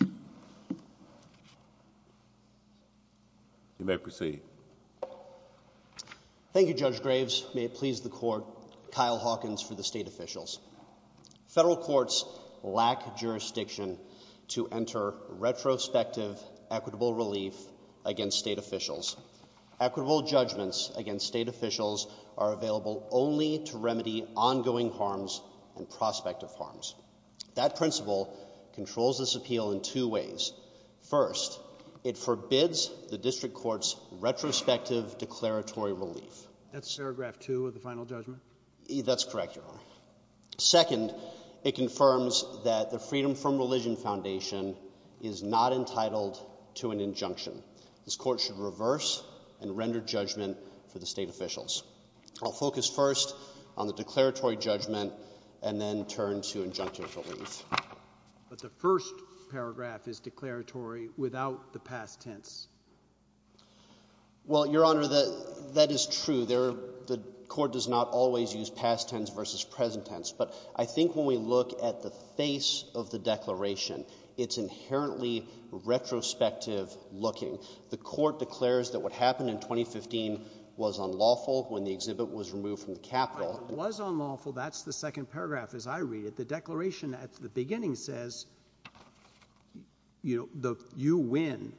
al. You may proceed. Thank you, Judge Graves. May it please the Court, Kyle Hawkins for the State Officials. Federal courts lack jurisdiction to enter retrospective equitable relief against state officials. Equitable judgments against state officials are available only to remedy ongoing harms and prospective harms. That principle controls this appeal in two ways. First, it forbids the district court's retrospective declaratory relief. That's paragraph two of the final judgment? That's correct, Your Honor. Second, it confirms that the Freedom From Religion Foundation is not entitled to an injunction. This court should reverse and render judgment for the state officials. I'll focus first on the declaratory judgment and then turn to injunctive relief. But the first paragraph is declaratory without the past tense. Well, Your Honor, that is true. The court does not always use past tense versus present tense. But I think when we look at the face of the declaration, it's inherently retrospective looking. The court declares that what happened in 2015 was unlawful when the exhibit was removed from the Capitol. It was unlawful. That's the second paragraph as I read it. The declaration at the beginning says, you know, you win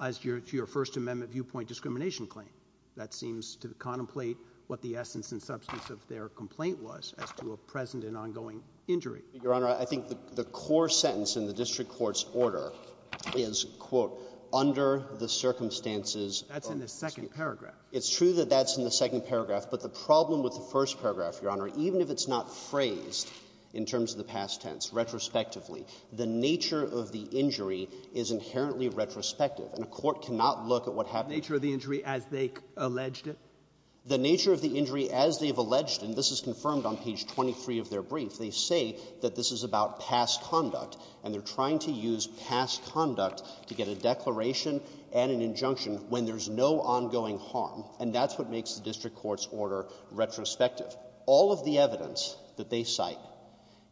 as to your First Amendment viewpoint discrimination claim. That seems to contemplate what the essence and substance of their complaint was as to a present and ongoing injury. Your Honor, I think the core sentence in the district court's order is, quote, under the circumstances of the state. That's in the second paragraph. It's true that that's in the second paragraph. But the problem with the first paragraph, Your Honor, even if it's not phrased in terms of the past tense, retrospectively, the nature of the injury is inherently retrospective. And a court cannot look at what happened to the injury as they alleged it. The nature of the injury as they've alleged it, and this is confirmed on page 23 of their brief, they say that this is about past conduct. And they're trying to use past conduct to get a declaration and an injunction when there's no ongoing harm. And that's what makes the district court's order retrospective. All of the evidence that they cite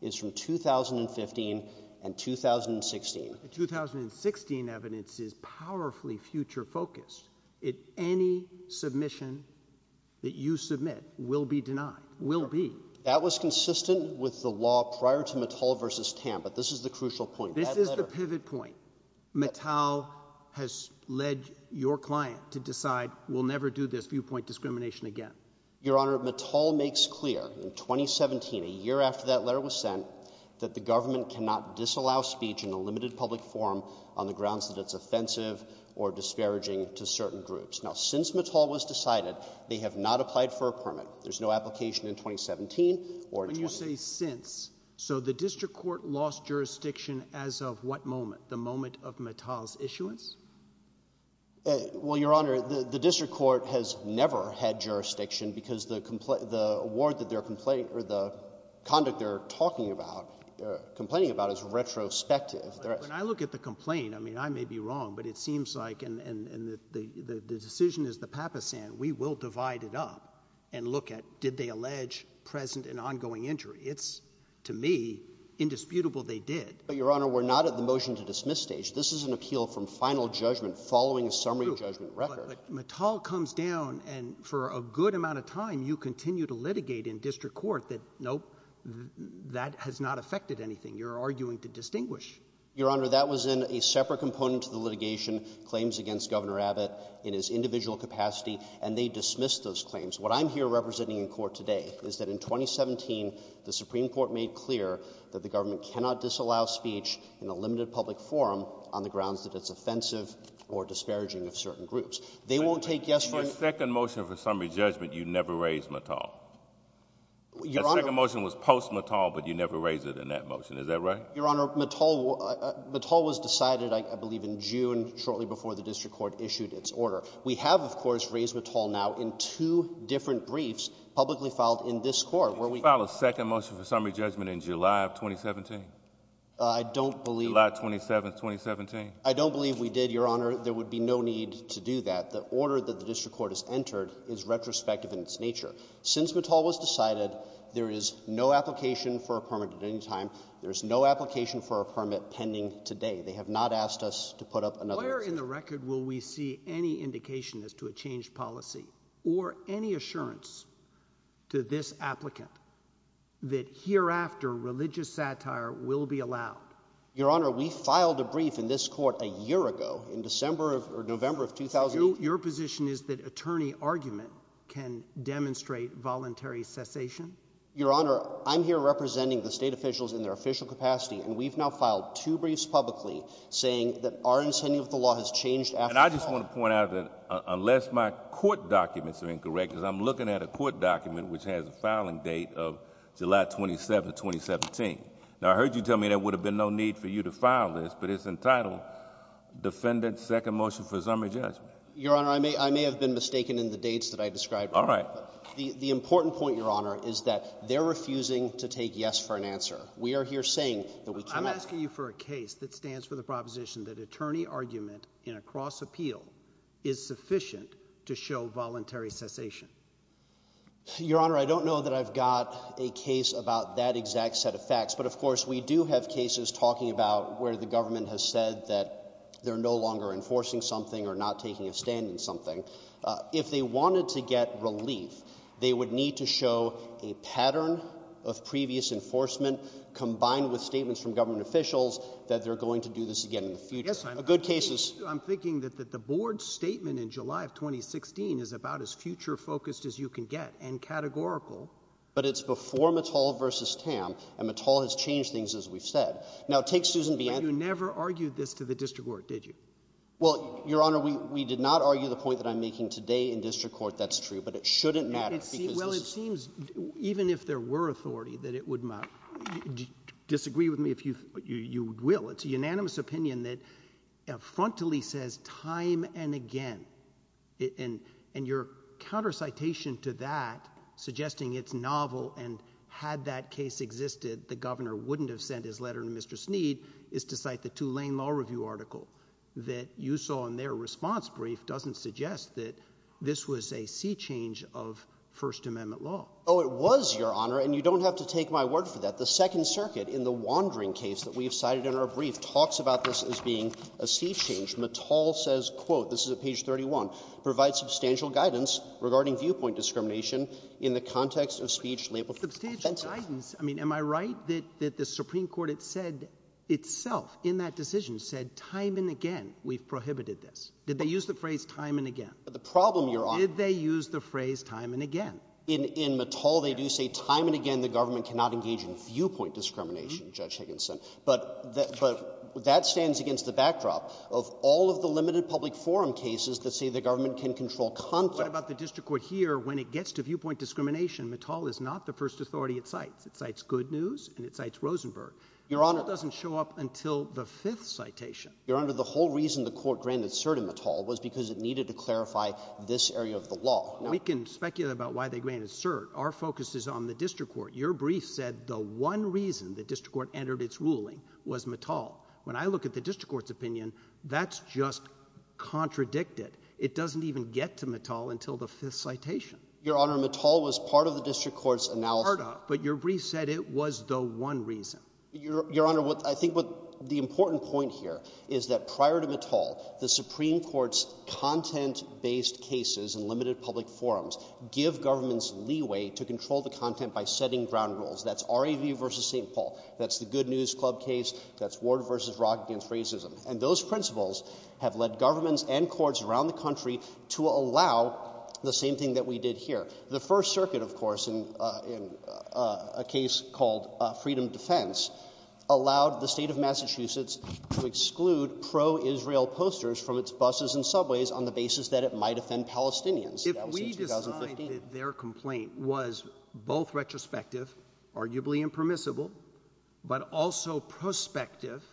is from 2015 and 2016. The 2016 evidence is powerfully future focused. Any submission that you submit will be denied. Will be. That was consistent with the law prior to Mattel versus Tam. But this is the crucial point. This is the pivot point. Mattel has led your client to decide we'll never do this viewpoint discrimination again. Your Honor, Mattel makes clear in 2017, a year after that letter was sent, that the government cannot disallow speech in a limited public forum on the grounds that it's offensive or disparaging to certain groups. There's no application in 2017 or in 2018. When you say since, so the district court lost jurisdiction as of what moment? The moment of Mattel's issuance? Well, Your Honor, the district court has never had jurisdiction because the award that they're complaining or the conduct they're talking about, complaining about is retrospective. When I look at the complaint, I mean, I may be wrong, but it seems like, and the decision is the Papasan, we will divide it up and look at, did they allege present and ongoing injury? It's, to me, indisputable they did. Your Honor, we're not at the motion to dismiss stage. This is an appeal from final judgment following a summary judgment record. Mattel comes down and for a good amount of time, you continue to litigate in district court that, nope, that has not affected anything. You're arguing to distinguish. Your Honor, that was in a separate component to the litigation, claims against Governor Abbott in his individual capacity, and they dismissed those claims. What I'm here representing in court today is that in 2017, the Supreme Court made clear that the government cannot disallow speech in a limited public forum on the grounds that it's offensive or disparaging of certain groups. They won't take yes or no. For a second motion for summary judgment, you never raised Mattel? Your Honor— The second motion was post-Mattel, but you never raised it in that motion. Is that right? Your Honor, Mattel was decided, I believe, in June, shortly before the district court issued its order. We have, of course, raised Mattel now in two different briefs publicly filed in this court, where we— Did you file a second motion for summary judgment in July of 2017? I don't believe— July 27th, 2017? I don't believe we did, Your Honor. There would be no need to do that. The order that the district court has entered is retrospective in its nature. Since Mattel was decided, there is no application for a permit at any time. There's no application for a permit pending today. They have not asked us to put up another— Where in the record will we see any indication as to a changed policy or any assurance to this applicant that hereafter religious satire will be allowed? Your Honor, we filed a brief in this court a year ago, in November of— Your position is that attorney argument can demonstrate voluntary cessation? Your Honor, I'm here representing the state officials in their official capacity, and And I just want to point out that unless my court documents are incorrect, because I'm looking at a court document which has a filing date of July 27th, 2017. Now, I heard you tell me there would have been no need for you to file this, but it's entitled Defendant's Second Motion for Summary Judgment. Your Honor, I may have been mistaken in the dates that I described. The important point, Your Honor, is that they're refusing to take yes for an answer. We are here saying that we cannot— Your Honor, I don't know that I've got a case about that exact set of facts, but of course we do have cases talking about where the government has said that they're no longer enforcing something or not taking a stand in something. If they wanted to get relief, they would need to show a pattern of previous enforcement combined with statements from government officials that they're going to do this again in the future. Yes, I'm— A good case is— I'm thinking that the board's statement in July of 2016 is about as future-focused as you can get and categorical. But it's before Mattel v. Tam, and Mattel has changed things, as we've said. Now take Susan B. Ann— But you never argued this to the district court, did you? Well, Your Honor, we did not argue the point that I'm making today in district court. That's true. But it shouldn't matter because— Even if there were authority, that it would matter— Disagree with me if you— You will. It's a unanimous opinion that frontally says time and again. And your counter-citation to that, suggesting it's novel and had that case existed, the governor wouldn't have sent his letter to Mr. Sneed, is to cite the Tulane Law Review article that you saw in their response brief doesn't suggest that this was a sea change of First Amendment law. Oh, it was, Your Honor, and you don't have to take my word for that. The Second Circuit, in the Wandering case that we've cited in our brief, talks about this as being a sea change. Mattel says, quote—this is at page 31—provide substantial guidance regarding viewpoint discrimination in the context of speech labeled offensive. Substantial guidance? I mean, am I right that the Supreme Court itself, in that decision, said time and again we've prohibited this? Did they use the phrase time and again? The problem, Your Honor— Did they use the phrase time and again? In Mattel, they do say time and again the government cannot engage in viewpoint discrimination, Judge Higginson, but that stands against the backdrop of all of the limited public forum cases that say the government can control content. What about the district court here, when it gets to viewpoint discrimination, Mattel is not the first authority it cites. It cites Good News and it cites Rosenberg. Your Honor— That doesn't show up until the fifth citation. Your Honor, the whole reason the court granted cert in Mattel was because it needed to clarify this area of the law. We can speculate about why they granted cert. Our focus is on the district court. Your brief said the one reason the district court entered its ruling was Mattel. When I look at the district court's opinion, that's just contradicted. It doesn't even get to Mattel until the fifth citation. Your Honor, Mattel was part of the district court's analysis— Part of, but your brief said it was the one reason. Your Honor, I think the important point here is that prior to Mattel, the Supreme Court's content-based cases in limited public forums give governments leeway to control the content by setting ground rules. That's RAV v. St. Paul. That's the Good News Club case. That's Ward v. Rock against racism. And those principles have led governments and courts around the country to allow the same thing that we did here. The First Circuit, of course, in a case called Freedom of Defense, allowed the state of Massachusetts to exclude pro-Israel posters from its buses and subways on the basis that it might offend Palestinians. If we decide that their complaint was both retrospective, arguably impermissible, but also prospective,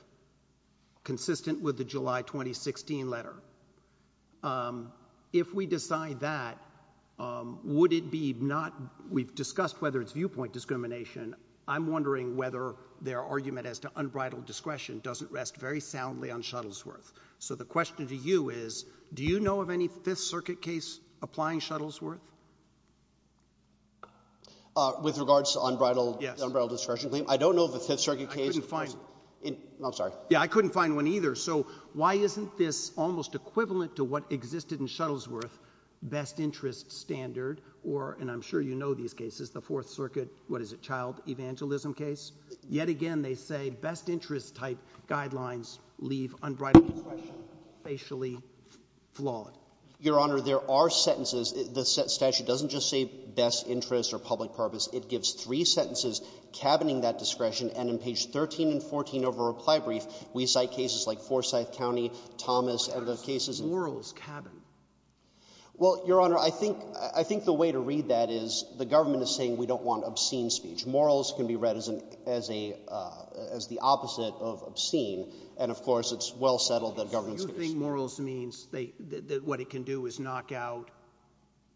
consistent with the July 2016 letter, if we decide that, would it be not—we've discussed whether it's viewpoint discrimination. I'm wondering whether their argument as to unbridled discretion doesn't rest very soundly on Shuttlesworth. So the question to you is, do you know of any Fifth Circuit case applying Shuttlesworth? With regards to unbridled— Yes. Unbridled discretion claim. I don't know of a Fifth Circuit case— I couldn't find one. I'm sorry. Yeah, I couldn't find one either. So why isn't this almost equivalent to what existed in Shuttlesworth, best interest standard, or—and I'm sure you know these cases—the Fourth Circuit, what is it, child evangelism case? Yet again, they say best interest type guidelines leave unbridled discretion facially flawed. Your Honor, there are sentences—the statute doesn't just say best interest or public purpose. It gives three sentences cabining that discretion, and in page 13 and 14 of our reply brief, we cite cases like Forsyth County, Thomas, and the cases— That's Laurel's cabin. Well, Your Honor, I think the way to read that is the government is saying we don't want obscene speech. Morals can be read as the opposite of obscene, and of course it's well settled that government's going to— You think morals means that what it can do is knock out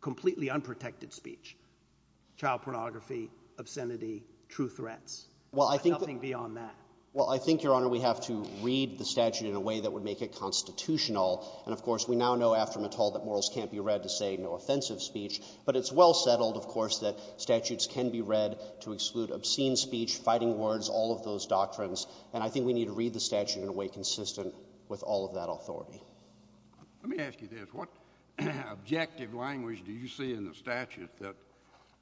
completely unprotected speech? Child pornography, obscenity, true threats. Well, I think— But nothing beyond that. Well, I think, Your Honor, we have to read the statute in a way that would make it constitutional, and of course we now know after Mittal that morals can't be read to say no offensive speech, but it's well settled, of course, that statutes can be read to exclude obscene speech, fighting words, all of those doctrines, and I think we need to read the statute in a way consistent with all of that authority. Let me ask you this. What objective language do you see in the statute that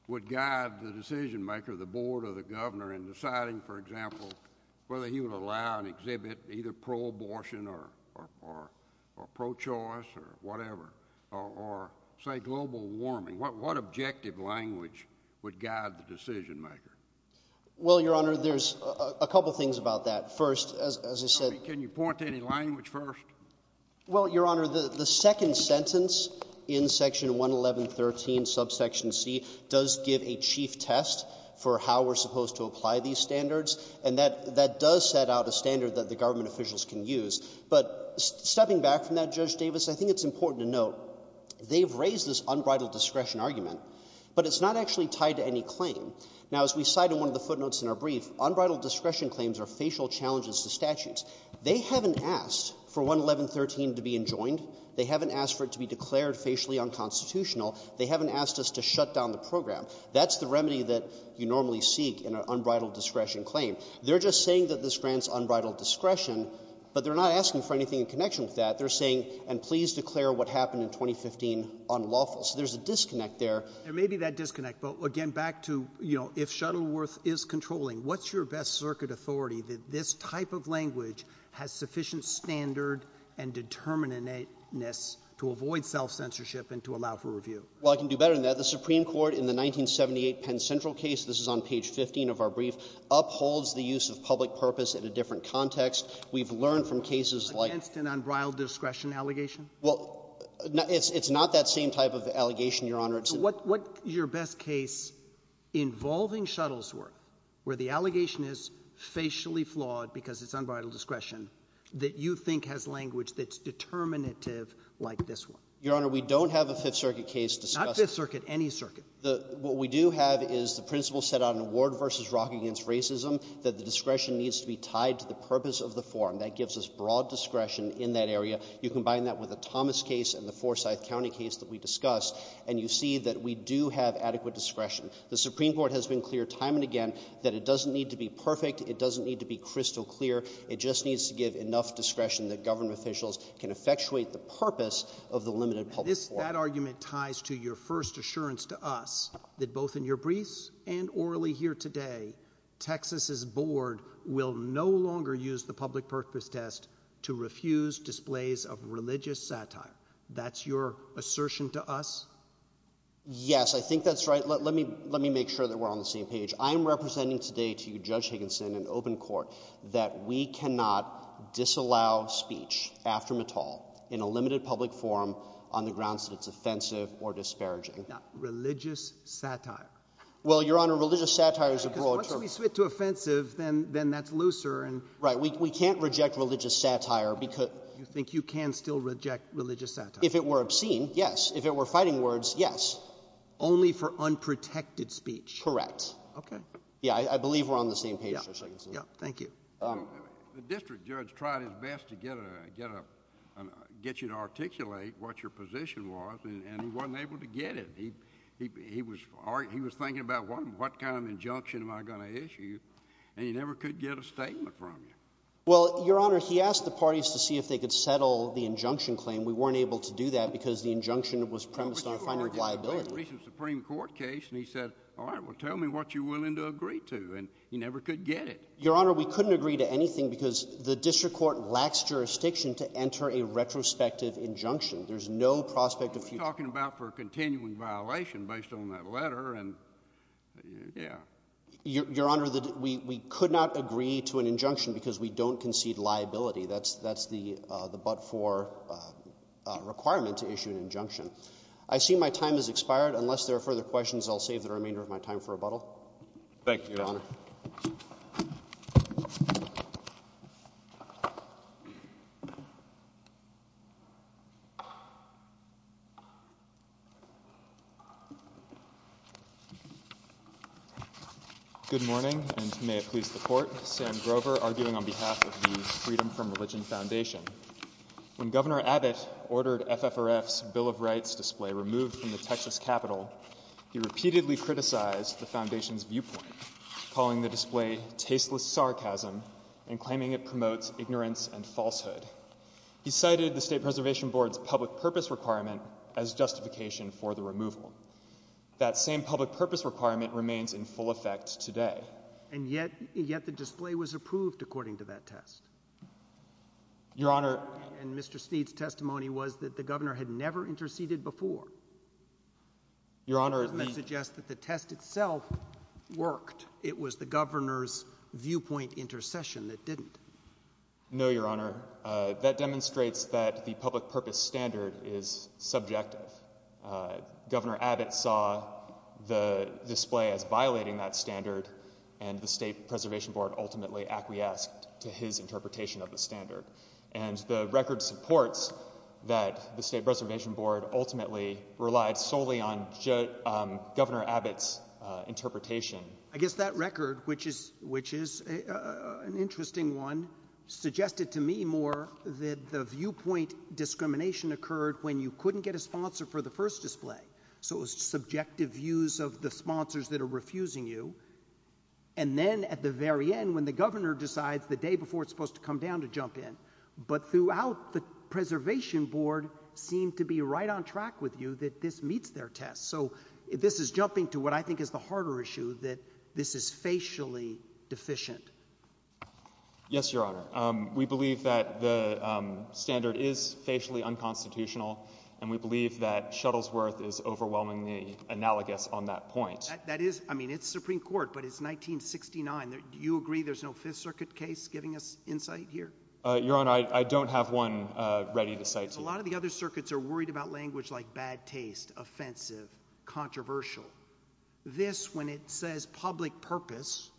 would guide the decision maker, the board, or the governor in deciding, for example, whether he would allow and exhibit either pro-abortion or pro-choice or whatever, or, say, global warming? What objective language would guide the decision maker? Well, Your Honor, there's a couple things about that. First, as I said— I mean, can you point to any language first? Well, Your Honor, the second sentence in Section 111.13, Subsection C, does give a chief test for how we're supposed to apply these standards, and that does set out a standard that the government officials can use. But stepping back from that, Judge Davis, I think it's important to note they've raised this unbridled discretion argument, but it's not actually tied to any claim. Now, as we cite in one of the footnotes in our brief, unbridled discretion claims are facial challenges to statutes. They haven't asked for 111.13 to be enjoined. They haven't asked for it to be declared facially unconstitutional. They haven't asked us to shut down the program. That's the remedy that you normally seek in an unbridled discretion claim. They're just saying that this grants unbridled discretion, but they're not asking for anything in connection with that. They're saying, and please declare what happened in 2015 unlawful. So there's a disconnect there. There may be that disconnect, but again, back to, you know, if Shuttleworth is controlling, what's your best circuit authority that this type of language has sufficient standard and determinateness to avoid self-censorship and to allow for review? Well, I can do better than that. The Supreme Court in the 1978 Penn Central case—this is on page 15 of our brief—upholds the use of public purpose in a different context. We've learned from cases like— Against an unbridled discretion allegation? Well, it's not that same type of allegation, Your Honor. So what's your best case involving Shuttleworth, where the allegation is facially flawed because it's unbridled discretion, that you think has language that's determinative like this one? Your Honor, we don't have a Fifth Circuit case discussing— Not Fifth Circuit. Any circuit. What we do have is the principle set out in Ward v. Rock against racism, that the discretion needs to be tied to the purpose of the form. That gives us broad discretion in that area. You combine that with the Thomas case and the Forsyth County case that we discussed, and you see that we do have adequate discretion. The Supreme Court has been clear time and again that it doesn't need to be perfect. It doesn't need to be crystal clear. It just needs to give enough discretion that government officials can effectuate the purpose of the limited public form. That argument ties to your first assurance to us that both in your briefs and orally here today, Texas's board will no longer use the public purpose test to refuse displays of religious satire. That's your assertion to us? Yes, I think that's right. Let me make sure that we're on the same page. I'm representing today to Judge Higginson in open court that we cannot disallow speech after Mittal in a limited public forum on the grounds that it's offensive or disparaging. Religious satire? Well, Your Honor, religious satire is a broad term. Because once we switch to offensive, then that's looser. Right, we can't reject religious satire. You think you can still reject religious satire? If it were obscene, yes. If it were fighting words, yes. Only for unprotected speech? Correct. Okay. Yeah, I believe we're on the same page, Justice Higginson. Yeah, thank you. The district judge tried his best to get you to articulate what your position was, and he wasn't able to get it. He was thinking about, what kind of injunction am I going to issue? And he never could get a statement from you. Well, Your Honor, he asked the parties to see if they could settle the injunction claim. We weren't able to do that because the injunction was premised on finding liability. Well, we did an original Supreme Court case, and he said, all right, well, tell me what you're willing to agree to. And he never could get it. Your Honor, we couldn't agree to anything because the district court lacks jurisdiction to enter a retrospective injunction. There's no prospect of future. What are we talking about for a continuing violation based on that letter? And, yeah. Your Honor, we could not agree to an injunction because we don't concede liability. That's the but-for requirement to issue an injunction. I see my time has expired. Unless there are further questions, I'll save the remainder of my time for rebuttal. Thank you, Your Honor. Good morning, and may it please the Court. Sam Grover, arguing on behalf of the Freedom from Religion Foundation. When Governor Abbott ordered FFRF's Bill of Rights display removed from the Texas Capitol, he repeatedly criticized the foundation's viewpoint, calling the bill a sarcasm, and claiming it promotes ignorance and falsehood. He cited the State Preservation Board's public purpose requirement as justification for the removal. That same public purpose requirement remains in full effect today. And yet, yet the display was approved according to that test. Your Honor. And Mr. Sneed's testimony was that the governor had never interceded before. Your Honor, the- That suggests that the test itself worked. It was the governor's viewpoint intercession that didn't. No, Your Honor. That demonstrates that the public purpose standard is subjective. Governor Abbott saw the display as violating that standard, and the State Preservation Board ultimately acquiesced to his interpretation of the standard. And the record supports that the State Preservation Board ultimately relied solely on Governor Abbott's interpretation. I guess that record, which is, which is an interesting one, suggested to me more that the viewpoint discrimination occurred when you couldn't get a sponsor for the first display, so it was subjective views of the sponsors that are refusing you, and then at the very end, when the governor decides the day before it's supposed to come down to jump in, but throughout the Preservation Board seemed to be right on track with you that this meets their test. So this is jumping to what I think is the harder issue, that this is facially deficient. Yes, Your Honor. We believe that the standard is facially unconstitutional, and we believe that Shuttlesworth is overwhelmingly analogous on that point. That is, I mean, it's Supreme Court, but it's 1969. Do you agree there's no Fifth Circuit case giving us insight here? Your Honor, I don't have one ready to cite to you. A lot of the other circuits are worried about language like bad taste, offensive, controversial. This, when it says public purpose,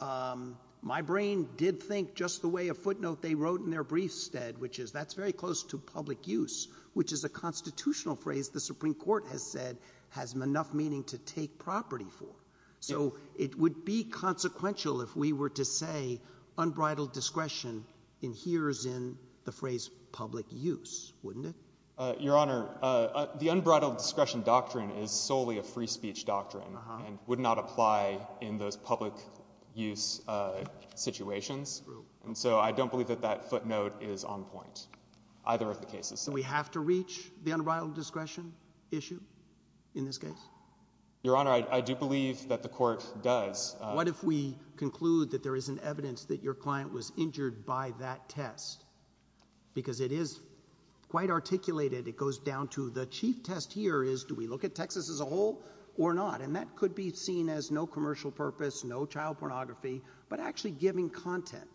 my brain did think just the way a footnote they wrote in their briefs said, which is, that's very close to public use, which is a constitutional phrase the Supreme Court has said has enough meaning to take property for. So it would be consequential if we were to say unbridled discretion adheres in the phrase public use, wouldn't it? Your Honor, the unbridled discretion doctrine is solely a free speech doctrine, and would not apply in those public use situations. And so I don't believe that that footnote is on point, either of the cases. Do we have to reach the unbridled discretion issue in this case? Your Honor, I do believe that the court does. What if we conclude that there is an evidence that your client was injured by that test? Because it is quite articulated. It goes down to the chief test here is, do we look at Texas as a whole or not? And that could be seen as no commercial purpose, no child pornography, but actually giving content.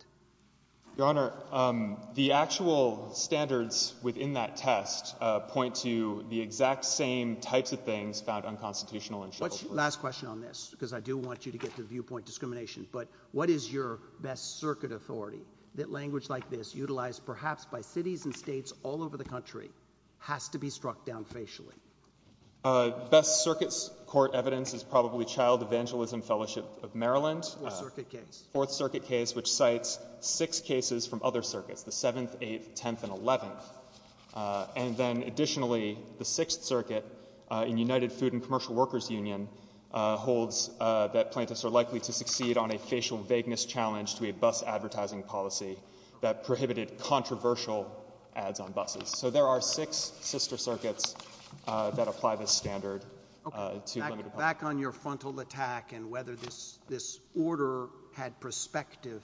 Your Honor, the actual standards within that test point to the exact same types of things found unconstitutional in Shuttlesworth. Last question on this, because I do want you to get to viewpoint discrimination. But what is your best circuit authority? That language like this, utilized perhaps by cities and states all over the country, has to be struck down facially. Best circuit's court evidence is probably Child Evangelism Fellowship of Maryland. Fourth Circuit case. Fourth Circuit case, which cites six cases from other circuits, the 7th, 8th, 10th, and 11th. And then additionally, the 6th Circuit in United Food and Commercial Workers Union holds that plaintiffs are likely to succeed on a facial vagueness challenge to a bus advertising policy that prohibited controversial ads on buses. So there are six sister circuits that apply this standard to limited public. Back on your frontal attack and whether this order had perspective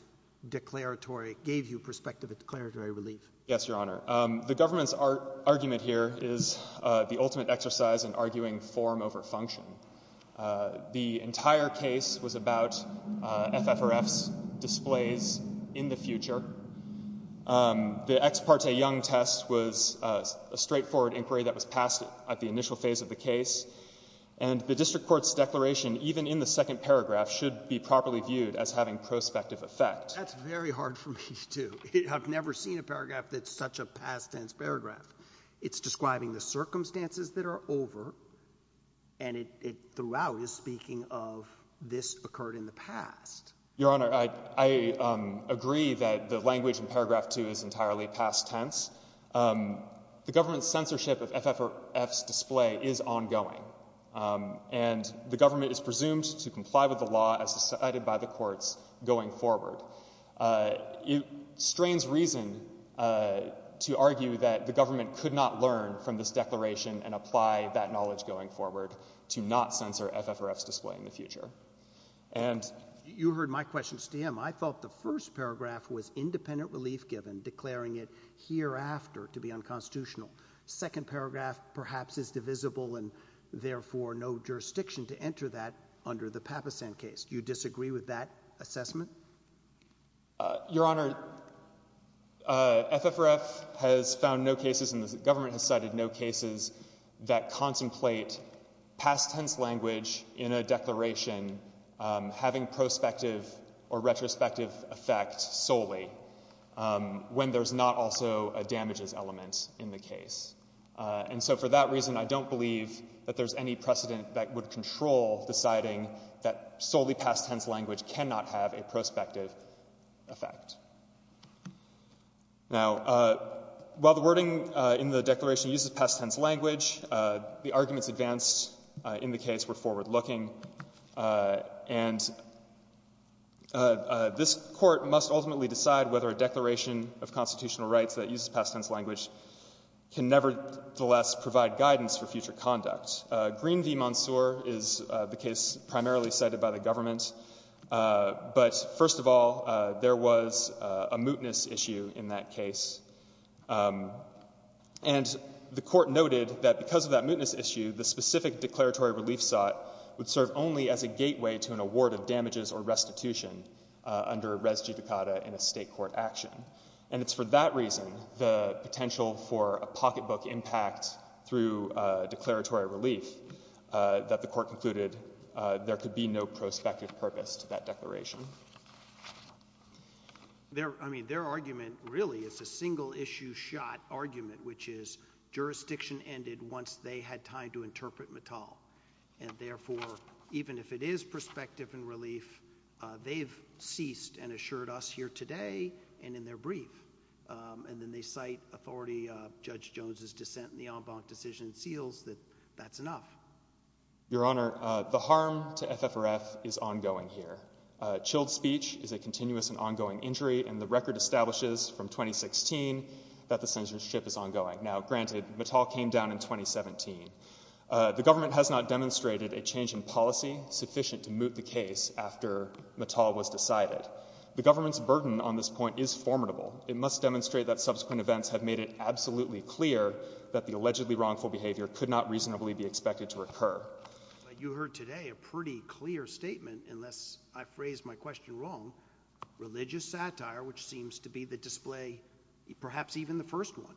declaratory, gave you perspective declaratory relief. Yes, Your Honor. The government's argument here is the ultimate exercise in arguing form over function. The entire case was about FFRF's displays in the future. The ex parte Young test was a straightforward inquiry that was passed at the initial phase of the case. And the district court's declaration, even in the second paragraph, should be properly viewed as having prospective effect. That's very hard for me, too. I've never seen a paragraph that's such a past tense paragraph. It's describing the circumstances that are over. And it throughout is speaking of this occurred in the past. Your Honor, I agree that the language in paragraph two is entirely past tense. The government's censorship of FFRF's display is ongoing. And the government is presumed to comply with the law as decided by the courts going forward. It strains reason to argue that the government could not learn from this declaration and apply that knowledge going forward to not censor FFRF's display in the future. And you heard my questions to him. I thought the first paragraph was independent relief given declaring it hereafter to be unconstitutional. Second paragraph perhaps is divisible and therefore no jurisdiction to enter that under the Papasan case. Do you disagree with that assessment? Your Honor, FFRF has found no cases and the government has cited no cases that contemplate past tense language in a declaration having prospective or retrospective effect solely when there's not also a damages element in the case. And so for that reason, I don't believe that there's any precedent that would control deciding that solely past tense language cannot have a prospective effect. Now, while the wording in the declaration uses past tense language, the arguments advanced in the case were forward-looking. And this court must ultimately decide whether a declaration of constitutional rights that uses past tense language can nevertheless provide guidance for future conduct. Green v. Monsoor is the case primarily cited by the government. But first of all, there was a mootness issue in that case. And the court noted that because of that mootness issue, the specific declaratory relief sought would serve only as a gateway to an award of damages or restitution under res judicata in a state court action. And it's for that reason, the potential for a pocketbook impact through declaratory relief, that the court concluded there could be no prospective purpose to that declaration. I mean, their argument really is a single-issue shot argument, which is jurisdiction ended once they had time to interpret Mattal. And therefore, even if it is prospective and relief, they've ceased and assured us here today and in their brief. And then they cite Authority Judge Jones's dissent in the en banc decision seals that that's enough. Your Honour, the harm to FFRF is ongoing here. Chilled speech is a continuous and ongoing injury, and the record establishes from 2016 that the censorship is ongoing. Now, granted, Mattal came down in 2017. The government has not demonstrated a change in policy sufficient to moot the case after Mattal was decided. The government's burden on this point is formidable. It must demonstrate that subsequent events have made it absolutely clear that the allegedly wrongful behaviour could not reasonably be expected to occur. But you heard today a pretty clear statement, unless I phrased my question wrong. Religious satire, which seems to be the display, perhaps even the first one,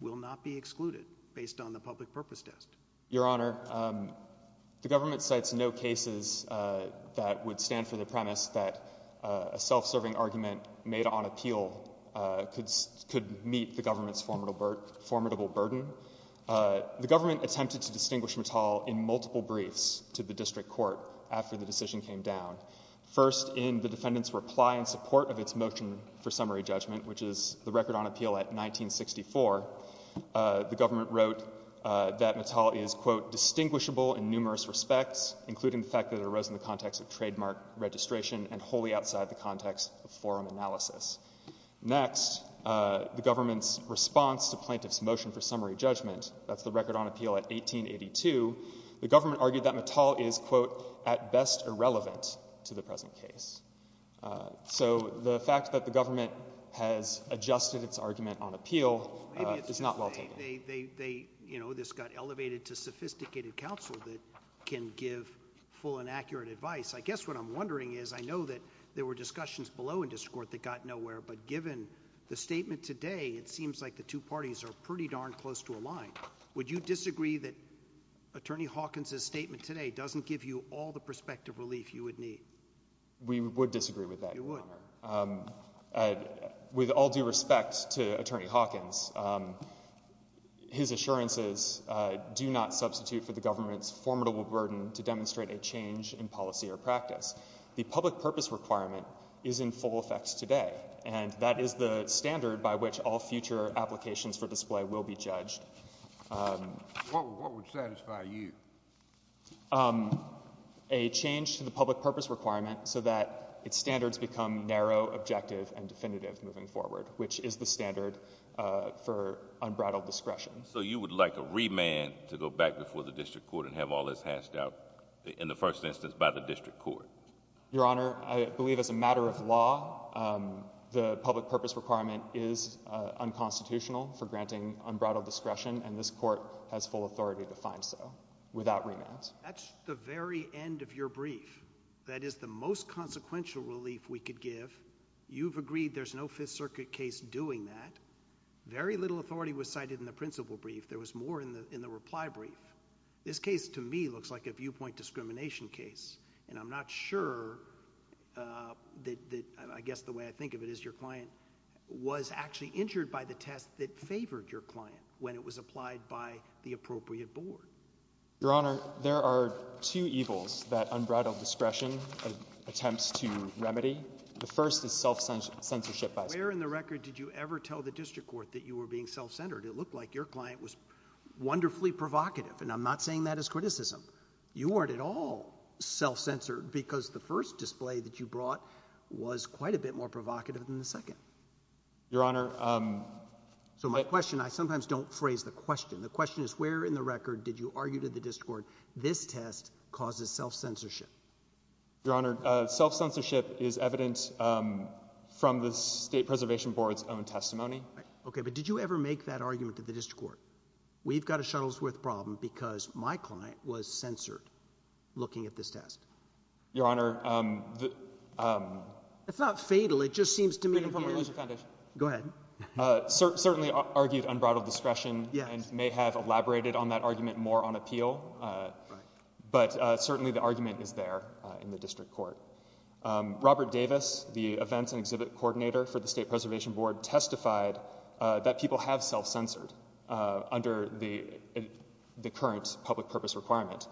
will not be excluded based on the public purpose test. Your Honour, the government cites no cases that would stand for the premise that a self-serving argument made on appeal could meet the government's formidable burden. The government attempted to distinguish Mattal in multiple briefs to the district court after the decision came down. First, in the defendant's reply in support of its motion for summary judgment, which is the record on appeal at 1964, the government wrote that Mattal is, quote, ''distinguishable in numerous respects, ''including the fact that it arose in the context of trademark registration ''and wholly outside the context of forum analysis.'' Next, the government's response to plaintiff's motion for appeal and motion for summary judgment, that's the record on appeal at 1882, the government argued that Mattal is, quote, ''at best irrelevant to the present case.'' So, the fact that the government has adjusted its argument on appeal is not well taken. Maybe it's just they, you know, this got elevated to sophisticated counsel that can give full and accurate advice. I guess what I'm wondering is, I know that there were discussions below in district court that got nowhere, but given the statement today, it seems like the two parties are pretty darn close to a line. Would you disagree that Attorney Hawkins's statement today doesn't give you all the perspective relief you would need? We would disagree with that, Your Honour. You would? With all due respect to Attorney Hawkins, his assurances do not substitute for the government's formidable burden to demonstrate a change in policy or practice. The public purpose requirement is in full effect today, and that is the standard by which all future applications for display will be judged. What would satisfy you? A change to the public purpose requirement so that its standards become narrow, objective and definitive moving forward, which is the standard for unbridled discretion. So, you would like a remand to go back before the district court and have all this hashed out in the first instance by the district court? Your Honour, I believe as a matter of law, the public purpose requirement is unconstitutional for granting unbridled discretion, and this court has full authority to find so without remand. That's the very end of your brief. That is the most consequential relief we could give. You've agreed there's no Fifth Circuit case doing that. Very little authority was cited in the principal brief. There was more in the reply brief. This case, to me, looks like a viewpoint discrimination case, and I'm not sure that... I guess the way I think of it is your client was actually injured by the test that favoured your client when it was applied by the appropriate board. Your Honour, there are two evils that unbridled discretion attempts to remedy. The first is self-censorship by... Where in the record did you ever tell the district court that you were being self-centred? It looked like your client was wonderfully provocative, and I'm not saying that as criticism. You weren't at all self-censored because the first display that you brought was quite a bit more provocative than the second. Your Honour... So, my question... I sometimes don't phrase the question. The question is, where in the record did you argue to the district court, this test causes self-censorship? Your Honour, self-censorship is evident from the State Preservation Board's own testimony. OK, but did you ever make that argument to the district court? We've got a Shuttlesworth problem because my client was censored looking at this test. Your Honour, um... It's not fatal, it just seems to me... Reading from the Religious Foundation. Go ahead. Certainly argued unbridled discretion and may have elaborated on that argument more on appeal. But certainly the argument is there in the district court. Robert Davis, the events and exhibit coordinator for the State Preservation Board, testified that people have self-censored under the current public purpose requirement.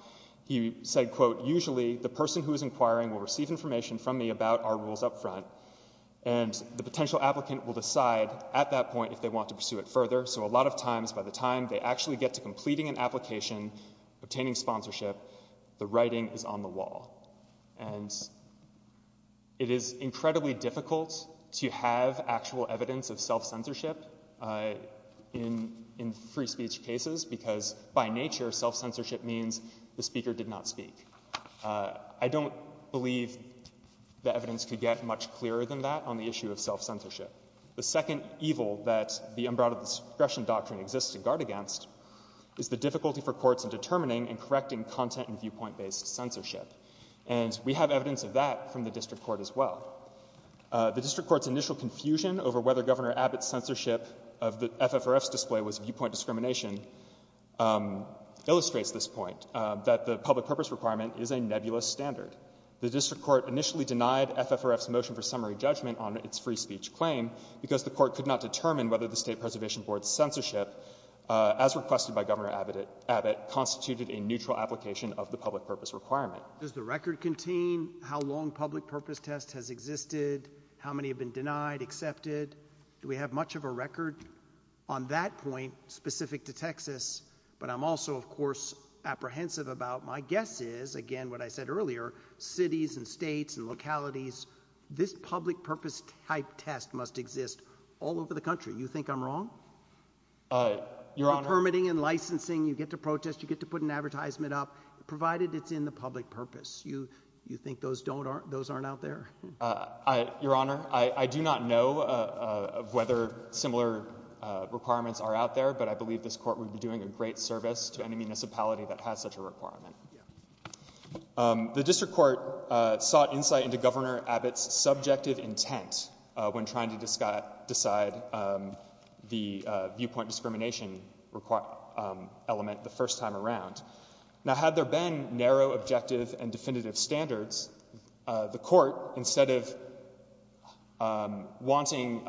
He said, quote, "'Usually the person who is inquiring will receive information "'from me about our rules up front "'and the potential applicant will decide at that point "'if they want to pursue it further.' "'So a lot of times, by the time they actually get "'to completing an application, obtaining sponsorship, "'the writing is on the wall.'" And it is incredibly difficult to have actual evidence of self-censorship in free speech cases, because by nature, self-censorship means the speaker did not speak. I don't believe the evidence could get much clearer than that on the issue of self-censorship. The second evil that the unbridled discretion doctrine exists to guard against is the difficulty for courts in determining and correcting content and viewpoint-based censorship. And we have evidence of that from the district court as well. The district court's initial confusion over whether Governor Abbott's censorship of the FFRF's display was viewpoint discrimination illustrates this point, that the public purpose requirement is a nebulous standard. The district court initially denied FFRF's motion for summary judgment on its free speech claim because the court could not determine whether the State Preservation Board's censorship, as requested by Governor Abbott, constituted a neutral application of the public purpose requirement. Does the record contain how long public purpose test has existed, how many have been denied, accepted? Do we have much of a record on that point specific to Texas? But I'm also, of course, apprehensive about, my guess is, again, what I said earlier, cities and states and localities, this public purpose-type test must exist all over the country. You think I'm wrong? Your Honor. You're permitting and licensing, you get to protest, you get to put an advertisement up, provided it's in the public purpose. You think those aren't out there? Your Honor, I do not know of whether similar requirements are out there, but I believe this court would be doing a great service to any municipality that has such a requirement. The district court sought insight into Governor Abbott's subjective intent when trying to decide the viewpoint discrimination element the first time around. Now, had there been narrow, objective, and definitive standards, the court, instead of wanting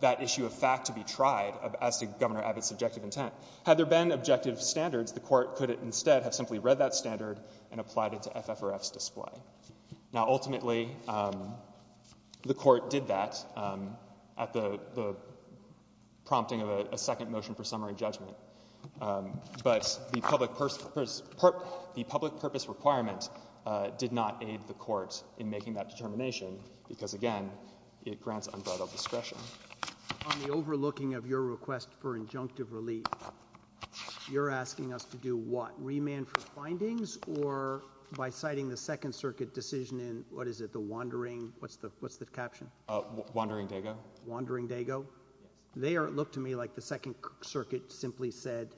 that issue of fact to be tried as to Governor Abbott's subjective intent, had there been objective standards, the court could instead have simply read that standard and applied it to FFRF's display. Now, ultimately, the court did that at the prompting of a second motion for summary judgment, but the public purpose requirement did not aid the court in making that determination because, again, it grants unbridled discretion. On the overlooking of your request for injunctive relief, you're asking us to do what, remand for findings, or by citing the Second Circuit decision in, what is it, the Wandering, what's the caption? Wandering Dago. Wandering Dago. They look to me like the Second Circuit simply said,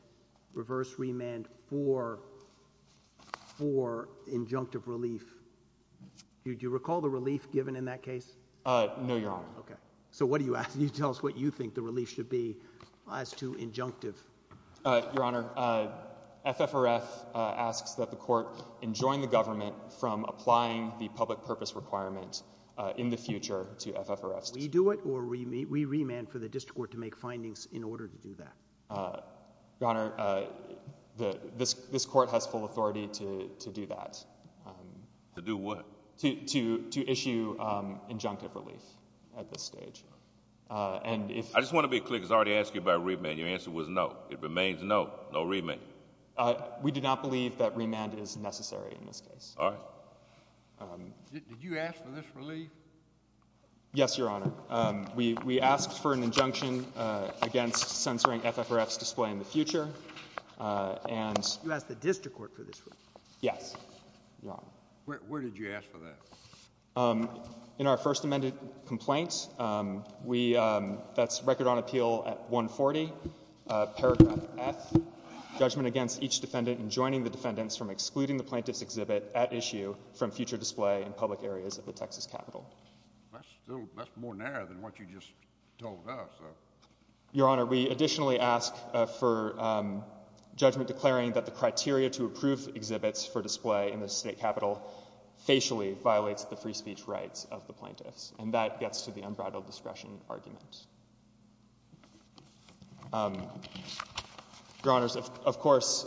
reverse remand for injunctive relief. Do you recall the relief given in that case? No, Your Honor. So what do you ask? Can you tell us what you think the relief should be as to injunctive? Your Honor, FFRF asks that the court enjoin the government from applying the public purpose requirement in the future to FFRF's. We do it, or we remand for the district court to make findings in order to do that? Your Honor, this court has full authority to do that. To do what? To issue injunctive relief at this stage. I just want to be clear, because I already asked you about remand. Your answer was no. It remains no, no remand. We do not believe that remand is necessary in this case. All right. Did you ask for this relief? Yes, Your Honor. We asked for an injunction against censoring FFRF's display in the future, and- You asked the district court for this relief? Yes, Your Honor. Where did you ask for that? In our first amended complaint, that's record on appeal at 140, paragraph F, judgment against each defendant in joining the defendants from excluding the plaintiff's exhibit at issue from future display in public areas of the Texas Capitol. That's more narrow than what you just told us. Your Honor, we additionally ask for judgment declaring that the criteria to approve exhibits for display in the state capitol facially violates the free speech rights of the plaintiffs. And that gets to the unbridled discretion argument. Your Honors, of course,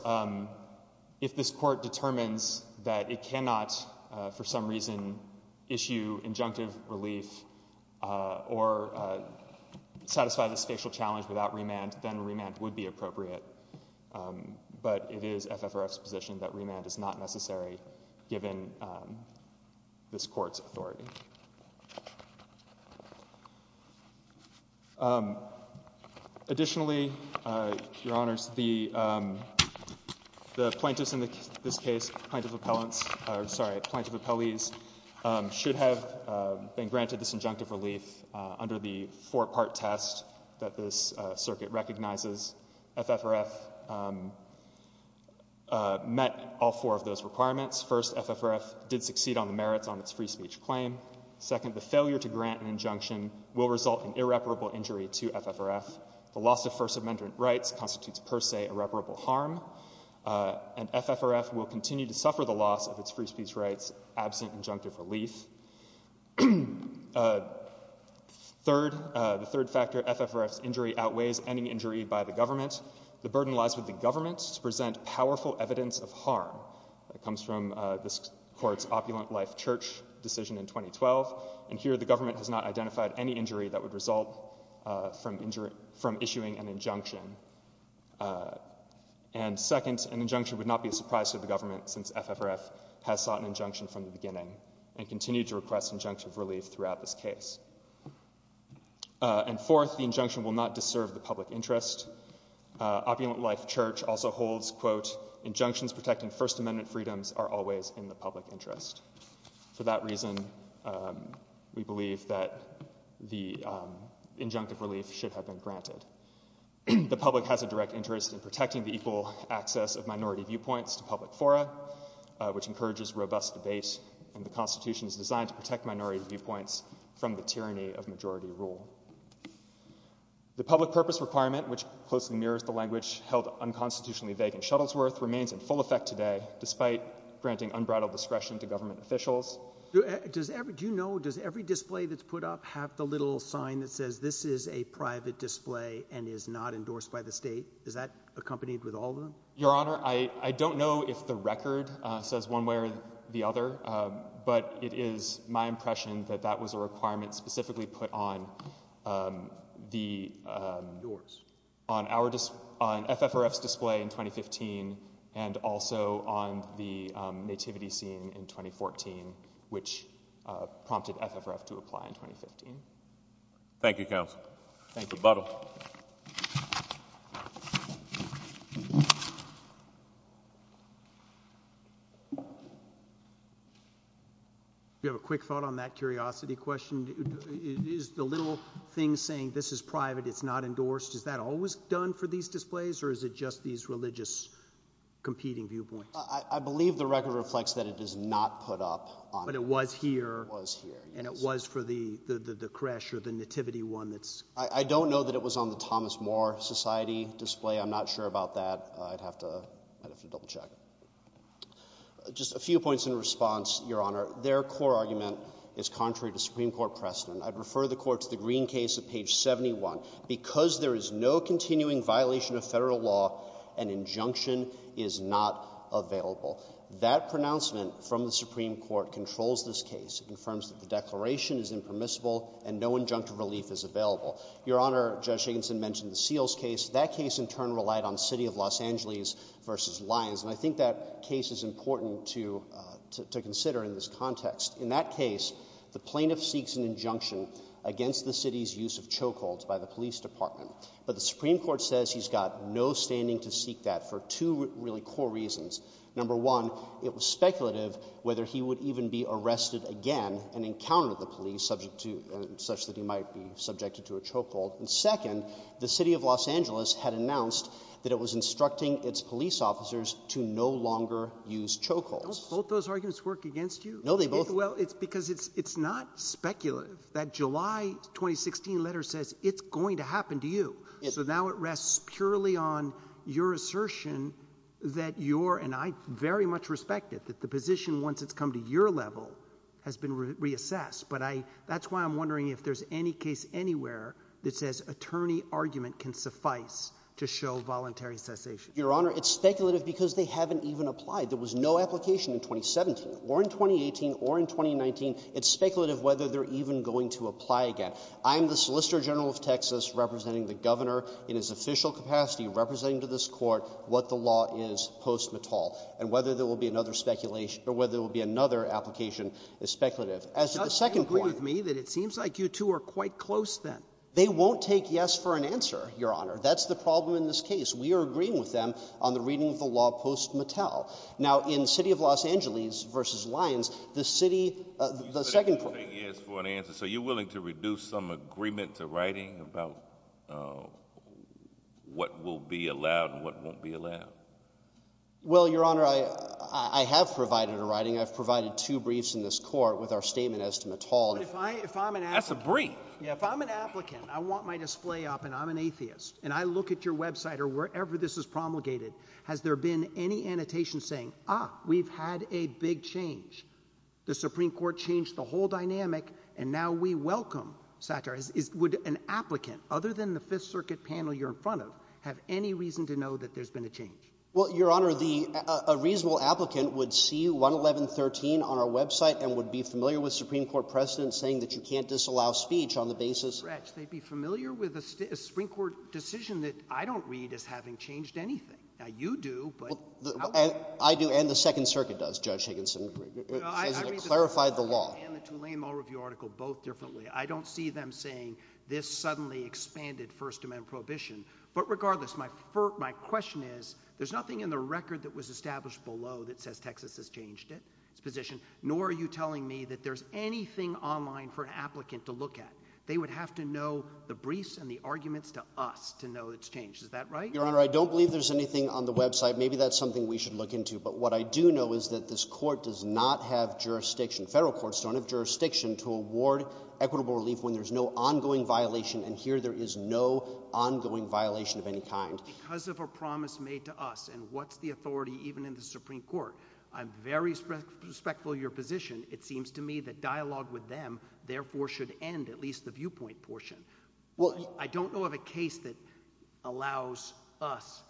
if this court determines that it cannot, for some reason, issue injunctive relief or satisfy the spatial challenge without remand, then remand would be appropriate. But it is FFRF's position that remand is not necessary given this court's authority. Additionally, Your Honors, the plaintiffs in this case plaintiff appellants, sorry, plaintiff appellees should have been granted this injunctive relief under the four part test that this circuit recognizes. FFRF met all four of those requirements. First, FFRF did succeed on the merits on its free speech claim. Second, the failure to grant an injunction will result in irreparable injury to FFRF. The loss of first amendment rights constitutes per se irreparable harm. And FFRF will continue to suffer the loss of its free speech rights absent injunctive relief. Third, the third factor, FFRF's injury outweighs any injury by the government. The burden lies with the government to present powerful evidence of harm. That comes from this court's opulent life church decision in 2012, and here the government has not identified any injury that would result from issuing an injunction. And second, an injunction would not be a surprise to the government since FFRF has sought an injunction from the beginning and continue to request injunctive relief throughout this case. And fourth, the injunction will not disserve the public interest. Opulent life church also holds, quote, injunctions protecting first amendment freedoms are always in the public interest. For that reason, we believe that the injunctive relief should have been granted. The public has a direct interest in protecting the equal access of minority viewpoints to public fora, which encourages robust debate. And the Constitution is designed to protect minority viewpoints from the tyranny of majority rule. The public purpose requirement, which closely mirrors the language held unconstitutionally vague in Shuttlesworth, remains in full effect today despite granting unbridled discretion to government officials. Do you know, does every display that's put up have the little sign that says, this is a private display and is not endorsed by the state? Is that accompanied with all of them? Your Honor, I don't know if the record says one way or the other. But it is my impression that that was a requirement specifically put on the FFRF's display in 2015 and also on the nativity scene in 2014, which prompted FFRF to apply in 2015. Thank you, counsel. Thank you, Buttle. Do you have a quick thought on that curiosity question? Is the little thing saying, this is private, it's not endorsed, is that always done for these displays? Or is it just these religious competing viewpoints? I believe the record reflects that it is not put up on it. But it was here. It was here, yes. And it was for the creche or the nativity one that's. I don't know that it was on the Thomas More Society display. I'm not sure about that. I'd have to double check. Just a few points in response, Your Honor. Their core argument is contrary to Supreme Court precedent. I'd refer the court to the Green case at page 71. Because there is no continuing violation of federal law, an injunction is not available. That pronouncement from the Supreme Court controls this case. It confirms that the declaration is impermissible and no injunctive relief is available. Your Honor, Judge Higginson mentioned the Seals case. That case, in turn, relied on the city of Los Angeles versus Lyons. And I think that case is important to consider in this context. In that case, the plaintiff seeks an injunction against the city's use of chokeholds by the police department. But the Supreme Court says he's got no standing to seek that for two really core reasons. Number one, it was speculative whether he would even be arrested again and encounter the police, such that he might be subjected to a chokehold. And second, the city of Los Angeles had announced that it was instructing its police officers to no longer use chokeholds. Don't both those arguments work against you? No, they both work. Well, it's because it's not speculative. That July 2016 letter says it's going to happen to you. So now it rests purely on your assertion that you're, and I very much respect it, that the position, once it's come to your level, has been reassessed. But that's why I'm wondering if there's any case anywhere that says attorney argument can suffice to show voluntary cessation. Your Honor, it's speculative because they haven't even applied. There was no application in 2017, or in 2018, or in 2019. It's speculative whether they're even going to apply again. I'm the Solicitor General of Texas representing the governor, in his official capacity, representing to this court what the law is post-Mittal. And whether there will be another application is speculative. As to the second point. Do you agree with me that it seems like you two are quite close then? They won't take yes for an answer, Your Honor. That's the problem in this case. We are agreeing with them on the reading of the law post-Mittal. Now, in City of Los Angeles versus Lyons, the city, the second point. You said they won't take yes for an answer. So you're willing to reduce some agreement to writing about what will be allowed and what won't be allowed? Well, Your Honor, I have provided a writing. I've provided two briefs in this court with our statement as to Mittal. But if I'm an applicant. That's a brief. Yeah, if I'm an applicant, I want my display up, and I'm an atheist, and I look at your website or wherever this is promulgated, has there been any annotation saying, ah, we've had a big change. The Supreme Court changed the whole dynamic, and now we welcome satire. Would an applicant, other than the Fifth Circuit panel you're in front of, have any reason to know that there's been a change? Well, Your Honor, a reasonable applicant would see 111.13 on our website and would be familiar with Supreme Court precedent saying that you can't disallow speech on the basis. Retsch, they'd be familiar with a Supreme Court decision that I don't read as having changed anything. Now, you do, but how would you know? I do, and the Second Circuit does, Judge Higginson. It says it clarified the law. I read the Supreme Court and the Tulane Mall Review article both differently. I don't see them saying, this suddenly expanded First Amendment prohibition. But regardless, my question is, there's nothing in the record that was established below that says Texas has changed its position, nor are you telling me that there's anything online for an applicant to look at. They would have to know the briefs and the arguments to us to know it's changed. Is that right? Your Honor, I don't believe there's anything on the website. Maybe that's something we should look into. But what I do know is that this court does not have jurisdiction, federal courts don't have jurisdiction to award equitable relief when there's no ongoing violation. And here, there is no ongoing violation of any kind. Because of a promise made to us, and what's the authority even in the Supreme Court? I'm very respectful of your position. It seems to me that dialogue with them, therefore, should end at least the viewpoint portion. I don't know of a case that allows us,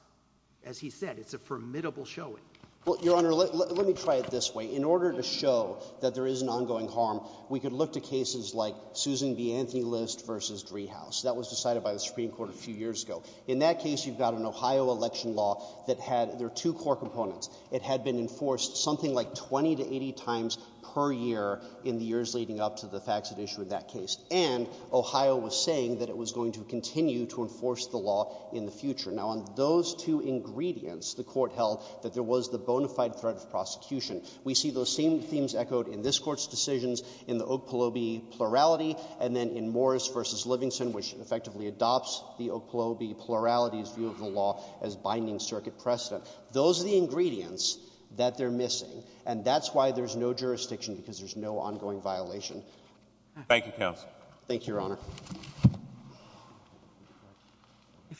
as he said, it's a formidable showing. Well, Your Honor, let me try it this way. In order to show that there is an ongoing harm, we could look to cases like Susan B. Anthony List versus Driehaus. That was decided by the Supreme Court a few years ago. In that case, you've got an Ohio election law that had their two core components. It had been enforced something like 20 to 80 times per year in the years leading up to the facts at issue in that case. And Ohio was saying that it was going to continue to enforce the law in the future. Now, on those two ingredients, the court held that there was the bona fide threat of prosecution. We see those same themes echoed in this court's decisions in the Oak Paloby plurality, and then in Morris versus Livingston, which effectively adopts the Oak Paloby plurality's view of the law as binding circuit precedent. Those are the ingredients that they're missing. And that's why there's no jurisdiction, because there's no ongoing violation. Thank you, counsel.